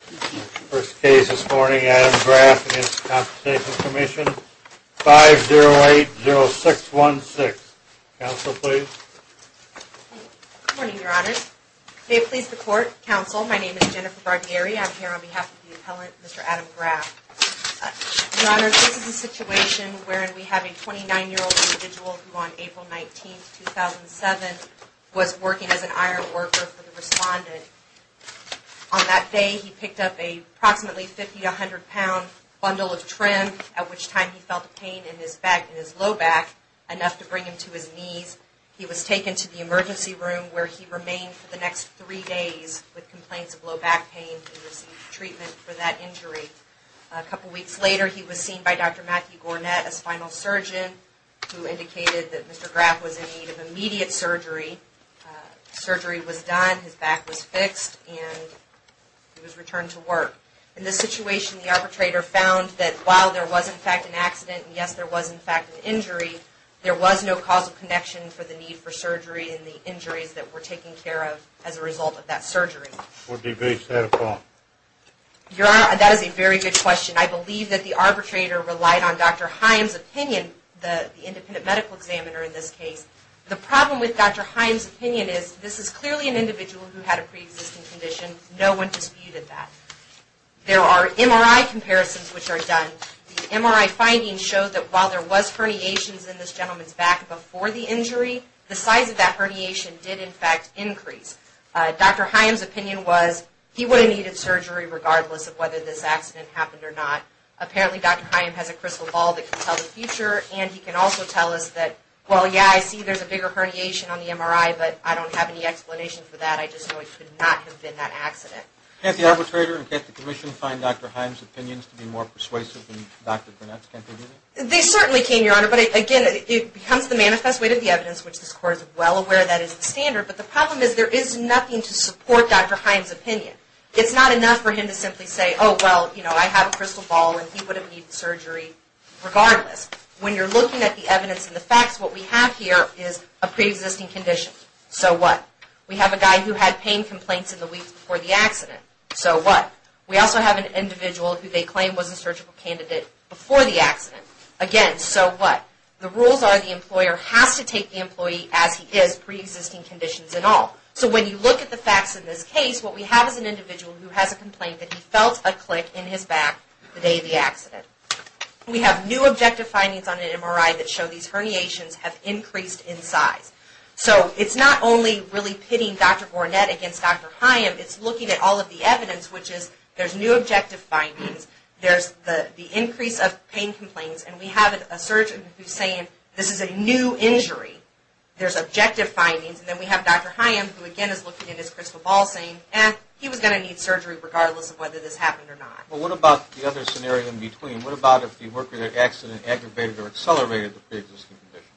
First case this morning, Adam Graff v. The Workers' Compensation Commission, 5-0-8-0-6-1-6. Counsel, please. Good morning, Your Honor. May it please the Court, Counsel, my name is Jennifer Bardieri. I'm here on behalf of the appellant, Mr. Adam Graff. Your Honor, this is a situation wherein we have a 29-year-old individual who on April 19, 2007, was working as an iron worker for the Respondent. On that day, he picked up a approximately 50-100 pound bundle of trim, at which time he felt pain in his back, in his low back, enough to bring him to his knees. He was taken to the emergency room where he remained for the next three days with complaints of low back pain and received treatment for that injury. A couple weeks later, he was seen by Dr. Matthew Gornett, a spinal surgeon, who indicated that Mr. Graff was in need of immediate surgery. Surgery was done, his back was fixed, and he was returned to work. In this situation, the arbitrator found that while there was, in fact, an accident, and yes, there was, in fact, an injury, there was no causal connection for the need for surgery and the injuries that were taken care of as a result of that surgery. What do you base that upon? Your Honor, that is a very good question. I believe that the arbitrator relied on Dr. Himes' opinion, the independent medical examiner in this case. The problem with Dr. Himes' opinion is this is clearly an individual who had a pre-existing condition. No one disputed that. There are MRI comparisons which are done. The MRI findings show that while there was herniations in this gentleman's back before the injury, the size of that herniation did, in fact, increase. Dr. Himes' opinion was he would have needed surgery regardless of whether this accident happened or not. Apparently, Dr. Himes has a crystal ball that can tell the future, and he can also tell us that, well, yeah, I see there's a bigger herniation on the MRI, but I don't have any explanation for that. I just know it could not have been that accident. Can't the arbitrator and can't the Commission find Dr. Himes' opinions to be more persuasive than Dr. Burnett's? Can't they do that? They certainly can, Your Honor, but again, it becomes the manifest way to the evidence, which this Court is well aware that is the standard. But the problem is there is nothing to support Dr. Himes' opinion. It's not enough for him to simply say, oh, well, you know, I have a crystal ball and he would have needed surgery regardless. When you're looking at the evidence and the facts, what we have here is a pre-existing condition. So what? We have a guy who had pain complaints in the weeks before the accident. So what? We also have an individual who they claim was a surgical candidate before the accident. Again, so what? The rules are the employer has to take the employee as he is, pre-existing conditions and all. So when you look at the facts in this case, what we have is an individual who has a complaint that he felt a click in his back the day of the accident. We have new objective findings on an MRI that show these herniations have increased in size. So it's not only really pitting Dr. Burnett against Dr. Himes, it's looking at all of the evidence, which is there's new objective findings, there's the increase of pain complaints, and we have a surgeon who's saying this is a new injury. There's objective findings, and then we have Dr. Himes, who again is looking at his crystal ball saying, eh, he was going to need surgery regardless of whether this happened or not. Well, what about the other scenario in between? What about if the worker that accident aggravated or accelerated the pre-existing condition?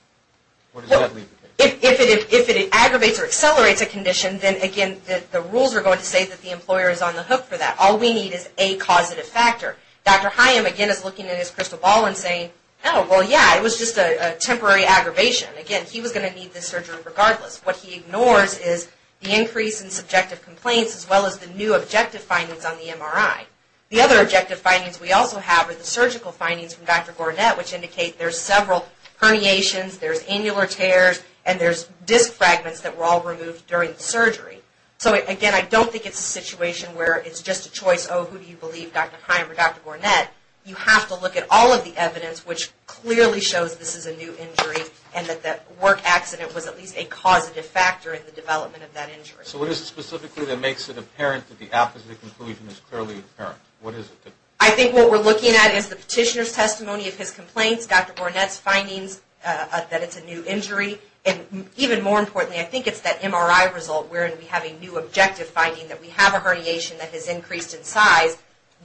What does that mean? If it aggravates or accelerates a condition, then again, the rules are going to say that the employer is on the hook for that. All we need is a causative factor. Dr. Himes again is looking at his crystal ball and saying, oh, well, yeah, it was just a temporary aggravation. Again, he was going to need this surgery regardless. What he ignores is the increase in subjective complaints as well as the new objective findings on the MRI. The other objective findings we also have are the surgical findings from Dr. Burnett, which indicate there's several herniations, there's annular tears, and there's disc fragments that were all removed during the surgery. So again, I don't think it's a situation where it's just a choice, oh, who do you believe, Dr. Himes or Dr. Burnett. You have to look at all of the evidence, which clearly shows this is a new injury and that the work accident was at least a causative factor in the development of that injury. So what is it specifically that makes it apparent that the opposite conclusion is clearly apparent? What is it? I think what we're looking at is the petitioner's testimony of his complaints, Dr. Burnett's findings that it's a new injury, and even more importantly, I think it's that MRI result where we have a new objective finding that we have a herniation that has increased in size.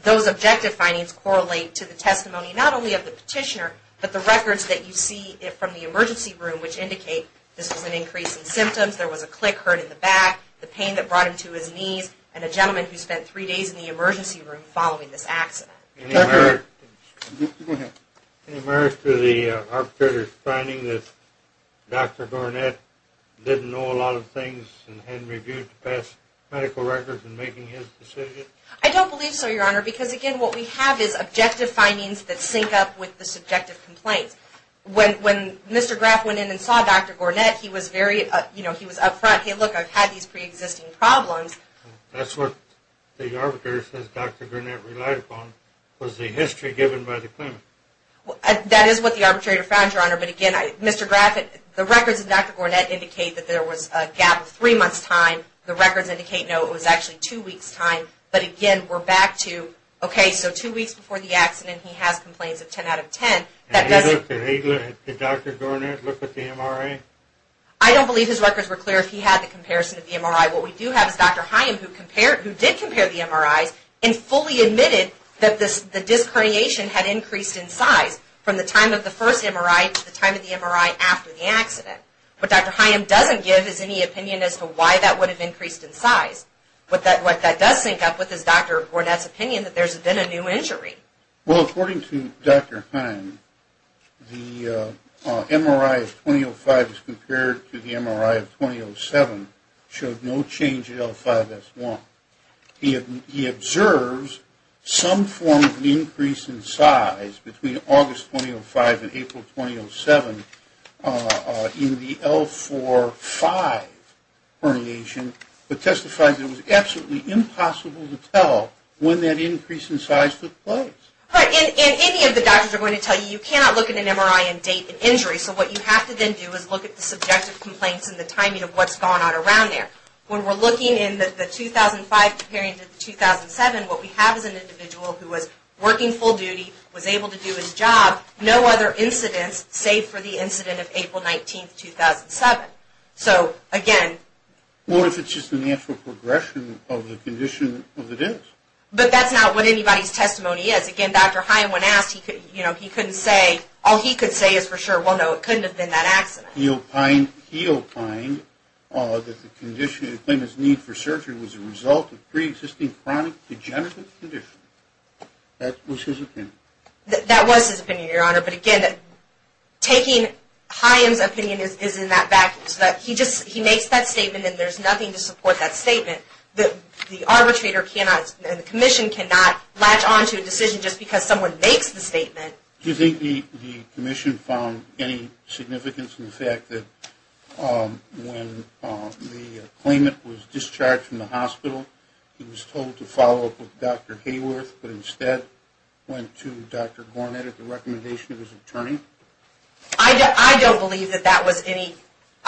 Those objective findings correlate to the testimony not only of the petitioner, but the records that you see from the emergency room, which indicate this was an increase in symptoms, there was a click hurt in the back, the pain that brought him to his knees, and a gentleman who spent three days in the emergency room following this accident. Any merit to the arbitrator's finding that Dr. Burnett didn't know a lot of things and hadn't reviewed the past medical records in making his decision? I don't believe so, Your Honor, because again, what we have is objective findings that sync up with the subjective complaints. When Mr. Graff went in and saw Dr. Burnett, he was very, you know, he was up front, hey, look, I've had these pre-existing problems. That's what the arbitrator says Dr. Burnett relied upon, was the history given by the claimant. That is what the arbitrator found, Your Honor, but again, Mr. Graff, the records of Dr. Burnett indicate that there was a gap of three months' time. The records indicate, no, it was actually two weeks' time, but again, we're back to, okay, so two weeks before the accident, he has complaints of 10 out of 10. Did Dr. Burnett look at the MRI? I don't believe his records were clear if he had the comparison of the MRI. What we do have is Dr. Higham, who did compare the MRIs and fully admitted that the disc herniation had increased in size from the time of the first MRI to the time of the MRI after the accident. But Dr. Higham doesn't give us any opinion as to why that would have increased in size. What that does sync up with is Dr. Burnett's opinion that there's been a new injury. Well, according to Dr. Higham, the MRI of 2005 as compared to the MRI of 2007 showed no change in L5-S1. He observes some form of increase in size between August 2005 and April 2007 in the L4-5 herniation, but testifies it was absolutely impossible to tell when that increase in size took place. Right, and any of the doctors are going to tell you you cannot look at an MRI and date an injury, so what you have to then do is look at the subjective complaints and the timing of what's gone on around there. When we're looking in the 2005 comparing to the 2007, what we have is an individual who was working full duty, was able to do his job, no other incidents save for the incident of April 19, 2007. So, again... What if it's just a natural progression of the condition of the dentist? But that's not what anybody's testimony is. Again, Dr. Higham, when asked, he couldn't say, all he could say is for sure, well, no, it couldn't have been that accident. He opined that the condition, he claimed his need for surgery was a result of pre-existing chronic degenerative condition. That was his opinion. That was his opinion, Your Honor. But again, taking Higham's opinion is in that vacuum. He makes that statement and there's nothing to support that statement. The arbitrator cannot, the commission cannot latch onto a decision just because someone makes the statement. Do you think the commission found any significance in the fact that when the claimant was discharged from the hospital, he was told to follow up with Dr. Hayworth, but instead went to Dr. Gornet at the recommendation of his attorney? I don't believe that that was any...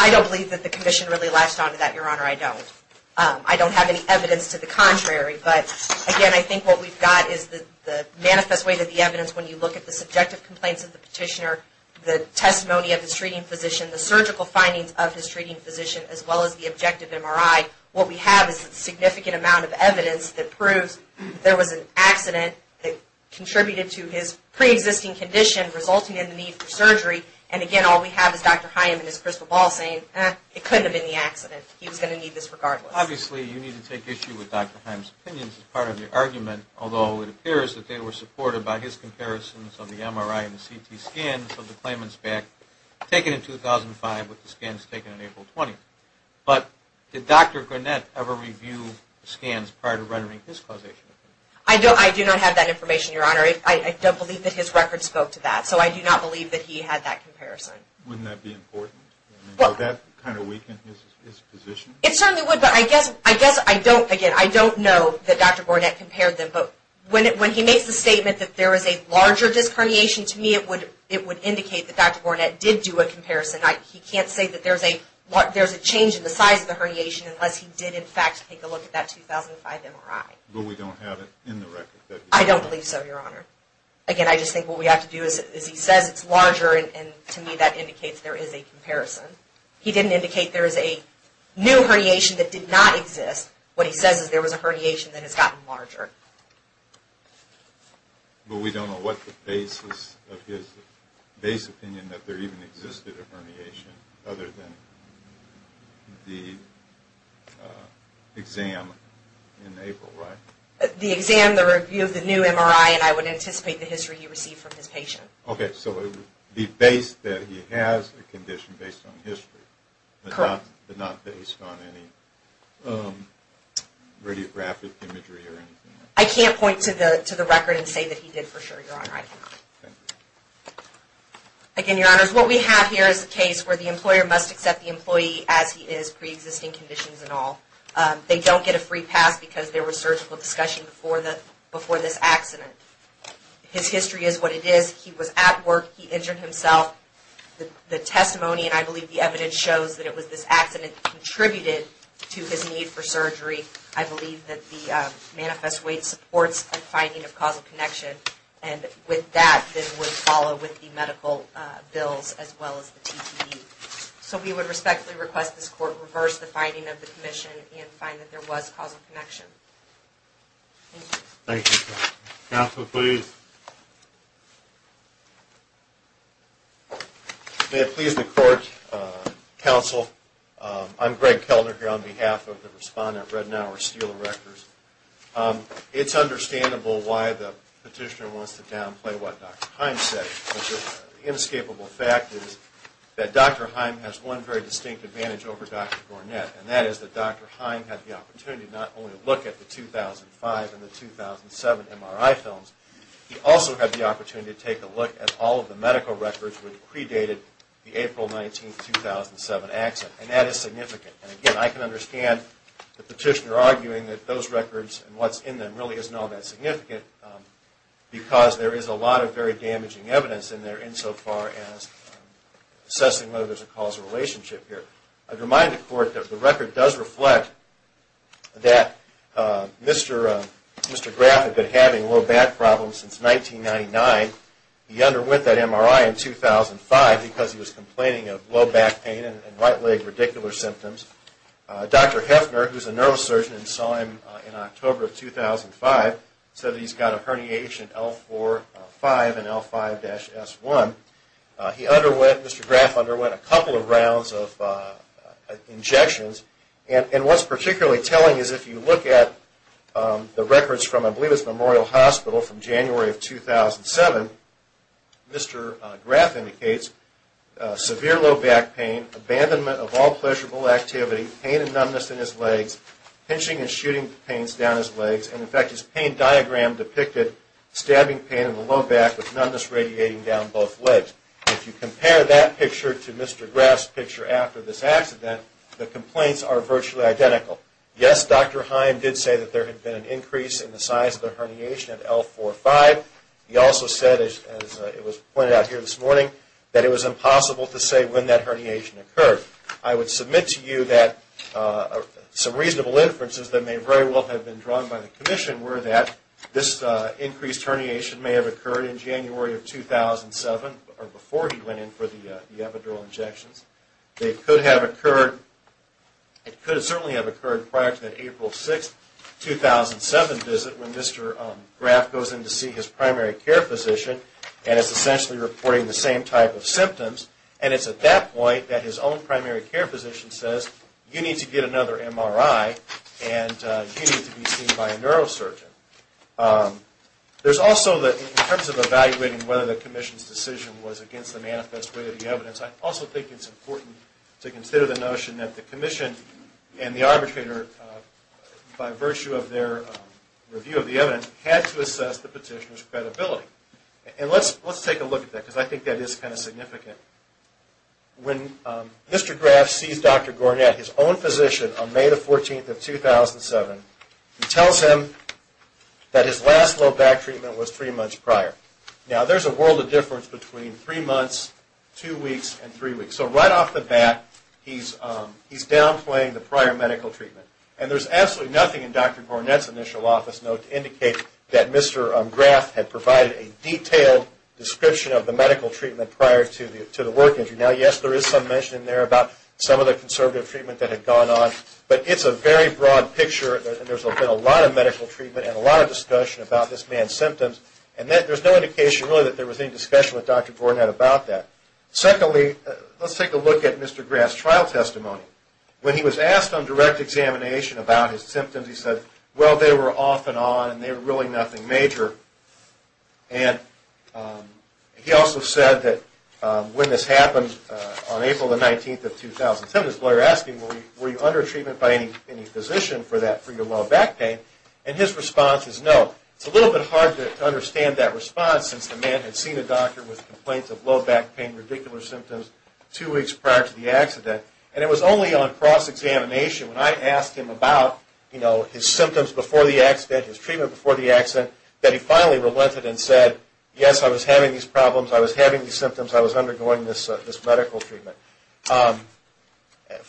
I don't believe that the commission really latched onto that, Your Honor, I don't. I don't have any evidence to the contrary, but again, I think what we've got is the manifest way that the evidence, when you look at the subjective complaints of the petitioner, the testimony of his treating physician, the surgical findings of his treating physician, as well as the objective MRI, what we have is a significant amount of evidence that proves there was an accident that contributed to his pre-existing condition, resulting in the need for surgery. And again, all we have is Dr. Hayworth and his crystal ball saying, eh, it couldn't have been the accident, he was going to need this regardless. Obviously, you need to take issue with Dr. Hayworth's opinions as part of your argument, although it appears that they were supported by his comparisons of the MRI and CT scans of the claimant's back, taken in 2005 with the scans taken on April 20th. But did Dr. Gornett ever review the scans prior to rendering his causation opinion? I do not have that information, Your Honor. I don't believe that his records spoke to that, so I do not believe that he had that comparison. Wouldn't that be important? Would that kind of weaken his position? It certainly would, but I guess I don't, again, I don't know that Dr. Gornett compared them, but when he makes the statement that there is a larger discarnation, to me it would indicate that Dr. Gornett did do a comparison. He can't say that there's a change in the size of the herniation unless he did, in fact, take a look at that 2005 MRI. But we don't have it in the record? I don't believe so, Your Honor. Again, I just think what we have to do is, as he says, it's larger, and to me that indicates there is a comparison. He didn't indicate there is a new herniation that did not exist. What he says is there was a herniation that has gotten larger. But we don't know what the basis of his base opinion that there even existed a herniation, other than the exam in April, right? The exam, the review of the new MRI, and I would anticipate the history he received from his patient. Okay, so the base that he has a condition based on history, but not based on any radiographic imagery or anything. I can't point to the record and say that he did for sure, Your Honor, I cannot. Okay. Again, Your Honors, what we have here is a case where the employer must accept the employee as he is, pre-existing conditions and all. They don't get a free pass because there was surgical discussion before this accident. His history is what it is. He was at work. He injured himself. The testimony, and I believe the evidence, shows that it was this accident that contributed to his need for surgery. I believe that the manifest way supports a finding of causal connection. And with that, this would follow with the medical bills as well as the TTE. So we would respectfully request this Court reverse the finding of the commission and find that there was causal connection. Thank you. Thank you, Counselor. Counselor, please. May it please the Court, Counsel, I'm Greg Kellner here on behalf of the respondent of Redenauer Steel Records. It's understandable why the petitioner wants to downplay what Dr. Heim said. The inescapable fact is that Dr. Heim has one very distinct advantage over Dr. Gornett, and that is that Dr. Heim had the opportunity to not only look at the 2005 and the 2007 MRI films, he also had the opportunity to take a look at all of the medical records which predated the April 19, 2007 accident. And that is significant. And again, I can understand the petitioner arguing that those records and what's in them really isn't all that significant, because there is a lot of very damaging evidence in there insofar as assessing whether there's a causal relationship here. I'd remind the Court that the record does reflect that Mr. Graff had been having low back problems since 1999. He underwent that MRI in 2005 because he was complaining of low back pain and right leg radicular symptoms. Dr. Hefner, who's a neurosurgeon and saw him in October of 2005, said that he's got a herniation L4-5 and L5-S1. He underwent, Mr. Graff underwent a couple of rounds of injections, and what's particularly telling is if you look at the records from, I believe it's Memorial Hospital from January of 2007, Mr. Graff indicates severe low back pain, abandonment of all pleasurable activity, pain and numbness in his legs, pinching and shooting pains down his legs, and in fact his pain diagram depicted stabbing pain in the low back with numbness radiating down both legs. If you compare that picture to Mr. Graff's picture after this accident, the complaints are virtually identical. Yes, Dr. Heim did say that there had been an increase in the size of the herniation at L4-5. He also said, as it was pointed out here this morning, that it was impossible to say when that herniation occurred. I would submit to you that some reasonable inferences that may very well have been drawn by the commission were that this increased herniation may have occurred in January of 2007, or before he went in for the epidural injections. It could certainly have occurred prior to that April 6, 2007 visit when Mr. Graff goes in to see his primary care physician and is essentially reporting the same type of symptoms, and it's at that point that his own primary care physician says, you need to get another MRI and you need to be seen by a neurosurgeon. There's also, in terms of evaluating whether the commission's decision was against the manifest way of the evidence, I also think it's important to consider the notion that the commission and the arbitrator, by virtue of their review of the evidence, had to assess the petitioner's credibility. Let's take a look at that, because I think that is kind of significant. When Mr. Graff sees Dr. Gornett, his own physician, on May 14, 2007, he tells him that his last low back treatment was three months prior. Now, there's a world of difference between three months, and three weeks, so right off the bat, he's downplaying the prior medical treatment. And there's absolutely nothing in Dr. Gornett's initial office note to indicate that Mr. Graff had provided a detailed description of the medical treatment prior to the work entry. Now, yes, there is some mention in there about some of the conservative treatment that had gone on, but it's a very broad picture, and there's been a lot of medical treatment and a lot of discussion about this man's symptoms, and there's no indication really that there was any discussion with Dr. Gornett about that. Secondly, let's take a look at Mr. Graff's trial testimony. When he was asked on direct examination about his symptoms, he said, well, they were off and on, and they were really nothing major. And he also said that when this happened on April 19, 2007, his lawyer asked him, were you under treatment by any physician for your low back pain? And his response is no. It's a little bit hard to understand that response, since the man had seen a doctor with complaints of low back pain, radicular symptoms, two weeks prior to the accident. And it was only on cross-examination, when I asked him about his symptoms before the accident, his treatment before the accident, that he finally relented and said, yes, I was having these problems, I was having these symptoms, I was undergoing this medical treatment.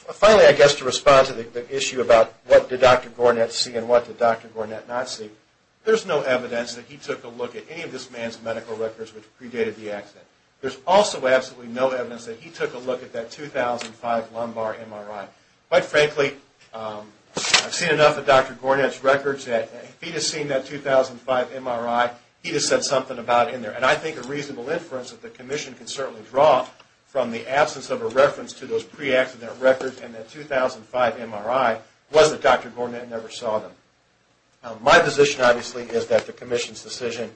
Finally, I guess to respond to the issue about what did Dr. Gornett see and what did Dr. Gornett not see, there's no evidence that he took a look at any of this man's medical records which predated the accident. There's also absolutely no evidence that he took a look at that 2005 lumbar MRI. Quite frankly, I've seen enough of Dr. Gornett's records that if he'd have seen that 2005 MRI, he'd have said something about it in there. And I think a reasonable inference that the Commission can certainly draw from the absence of a reference to those pre-accident records and that 2005 MRI was that Dr. Gornett never saw them. My position, obviously, is that the Commission's decision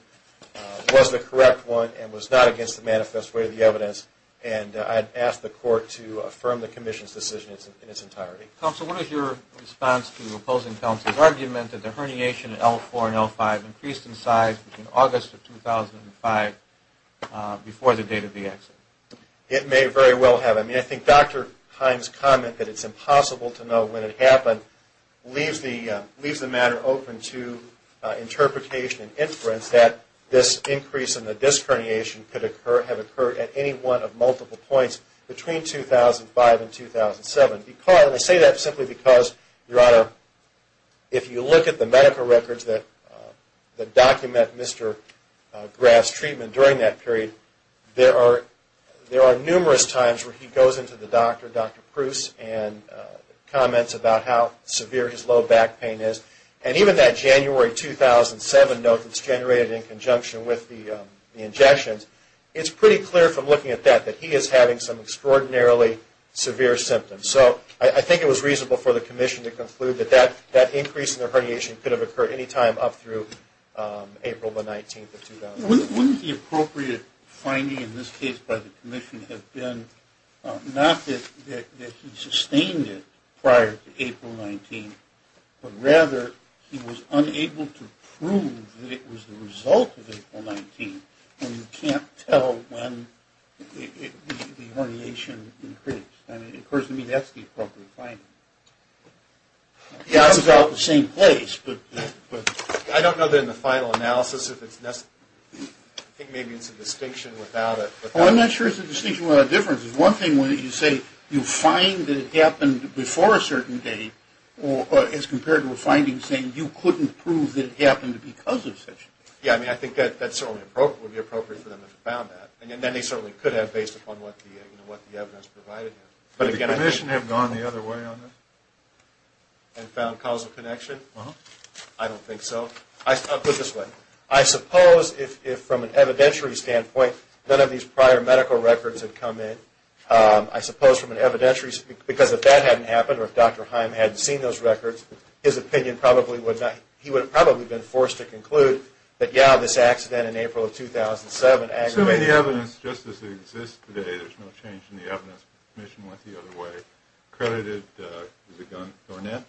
was the correct one and was not against the manifest way of the evidence. And I'd ask the Court to affirm the Commission's decision in its entirety. Counsel, what is your response to the opposing counsel's argument that the herniation in L4 and L5 increased in size between August of 2005 before the date of the accident? It may very well have. I mean, I think Dr. Hines' comment that it's impossible to know when it happened leaves the matter open to interpretation and inference that this increase in the disc herniation could have occurred at any one of multiple points between 2005 and 2007. I say that simply because, Your Honor, if you look at the medical records that document Mr. Graff's treatment during that period, there are numerous times where he goes into the doctor, Dr. Pruce, and comments about how severe his low back pain is. And even that January 2007 note that's generated in conjunction with the injections, it's pretty clear from looking at that that he is having some extraordinarily severe symptoms. So I think it was reasonable for the Commission to conclude that that increase in the herniation could have occurred any time up through April the 19th of 2005. Wouldn't the appropriate finding in this case by the Commission have been not that he sustained it prior to April 19th, but rather he was unable to prove that it was the result of April 19th and you can't tell when the herniation increased. And it occurs to me that's the appropriate finding. It comes out the same place, but... I don't know that in the final analysis if it's necessary. I think maybe it's a distinction without it. Well, I'm not sure it's a distinction without a difference. It's one thing when you say you find that it happened before a certain date as compared to a finding saying you couldn't prove that it happened because of such a date. Yeah, I mean, I think that would be appropriate for them if they found that. And then they certainly could have based upon what the evidence provided. Would the Commission have gone the other way on that? And found causal connection? I don't think so. I'll put it this way. I suppose if from an evidentiary standpoint, none of these prior medical records had come in. I suppose from an evidentiary... Because if that hadn't happened or if Dr. Heim hadn't seen those records, his opinion probably would not... He would have probably been forced to conclude that yeah, this accident in April of 2007 aggravated... So the evidence, just as it exists today, there's no change in the evidence. The Commission went the other way. They credited Garnett,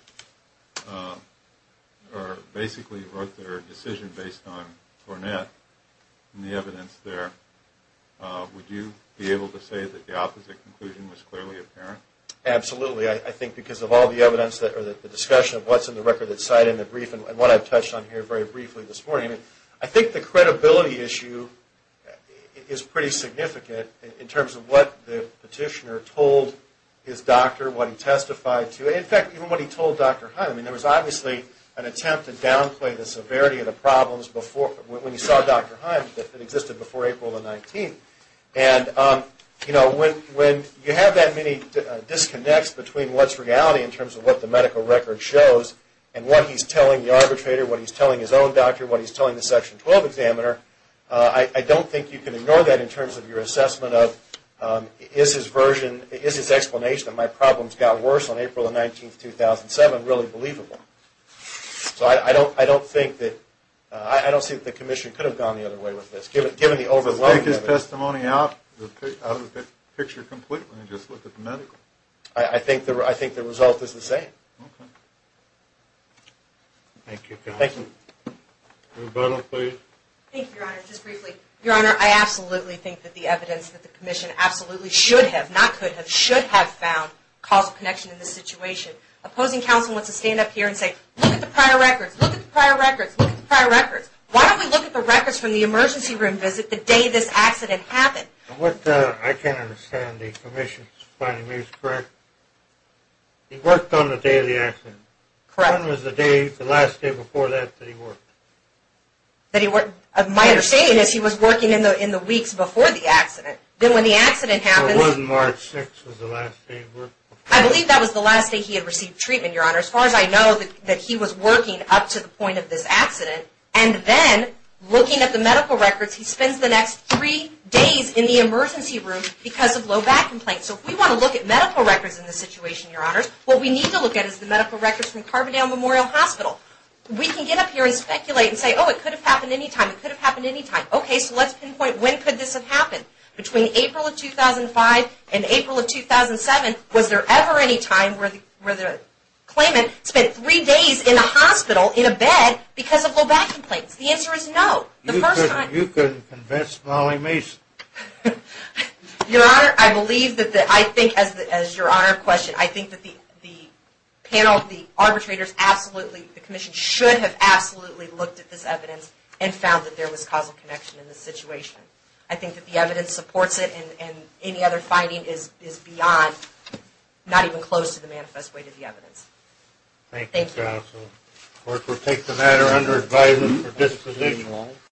or basically wrote their decision based on Garnett and the evidence there. Would you be able to say that the opposite conclusion was clearly apparent? Absolutely. I think because of all the evidence or the discussion of what's in the record that's cited in the brief and what I've touched on here very briefly this morning. I think the credibility issue is pretty significant in terms of what the petitioner told his doctor, what he testified to. In fact, even what he told Dr. Heim. There was obviously an attempt to downplay the severity of the problems when he saw Dr. Heim that existed before April the 19th. When you have that many disconnects between what's reality in terms of what the medical record shows and what he's telling the arbitrator, what he's telling his own doctor, what he's telling the Section 12 examiner, I don't think you can ignore that in terms of your assessment of, is his version, is his explanation that my problems got worse on April the 19th, 2007, really believable? So I don't think that, I don't see that the commission could have gone the other way with this, given the overwhelming evidence. Does it take his testimony out of the picture completely and just look at the medical? I think the result is the same. Okay. Thank you, counsel. Thank you. Your Honor, just briefly. Your Honor, I absolutely think that the evidence that the commission absolutely should have, not could have, should have found causal connection in this situation. Opposing counsel wants to stand up here and say, look at the prior records, look at the prior records, look at the prior records. Why don't we look at the records from the emergency room visit the day this accident happened? I can't understand the commission's findings, correct? He worked on the day of the accident. Correct. When was the day, the last day before that that he worked? My understanding is he was working in the weeks before the accident. Then when the accident happened. Wasn't March 6th the last day he worked? I believe that was the last day he had received treatment, Your Honor. As far as I know, he was working up to the point of this accident and then looking at the medical records, he spends the next three days in the emergency room because of low back complaints. So if we want to look at medical records in this situation, Your Honor, what we need to look at is the medical records from Carbondale Memorial Hospital. We can get up here and speculate and say, oh, it could have happened any time. It could have happened any time. Okay, so let's pinpoint when could this have happened. Between April of 2005 and April of 2007, was there ever any time where the claimant spent three days in a hospital, in a bed, because of low back complaints? The answer is no. The first time. You could convince Molly Mason. Your Honor, I believe that I think as your Honor questioned, I think that the panel, the arbitrators absolutely, the commission, should have absolutely looked at this evidence and found that there was causal connection in this situation. I think that the evidence supports it and any other finding is beyond, not even close to the manifest way to the evidence. Thank you, counsel. Court will take the matter under advisement for disposition, Your Honor.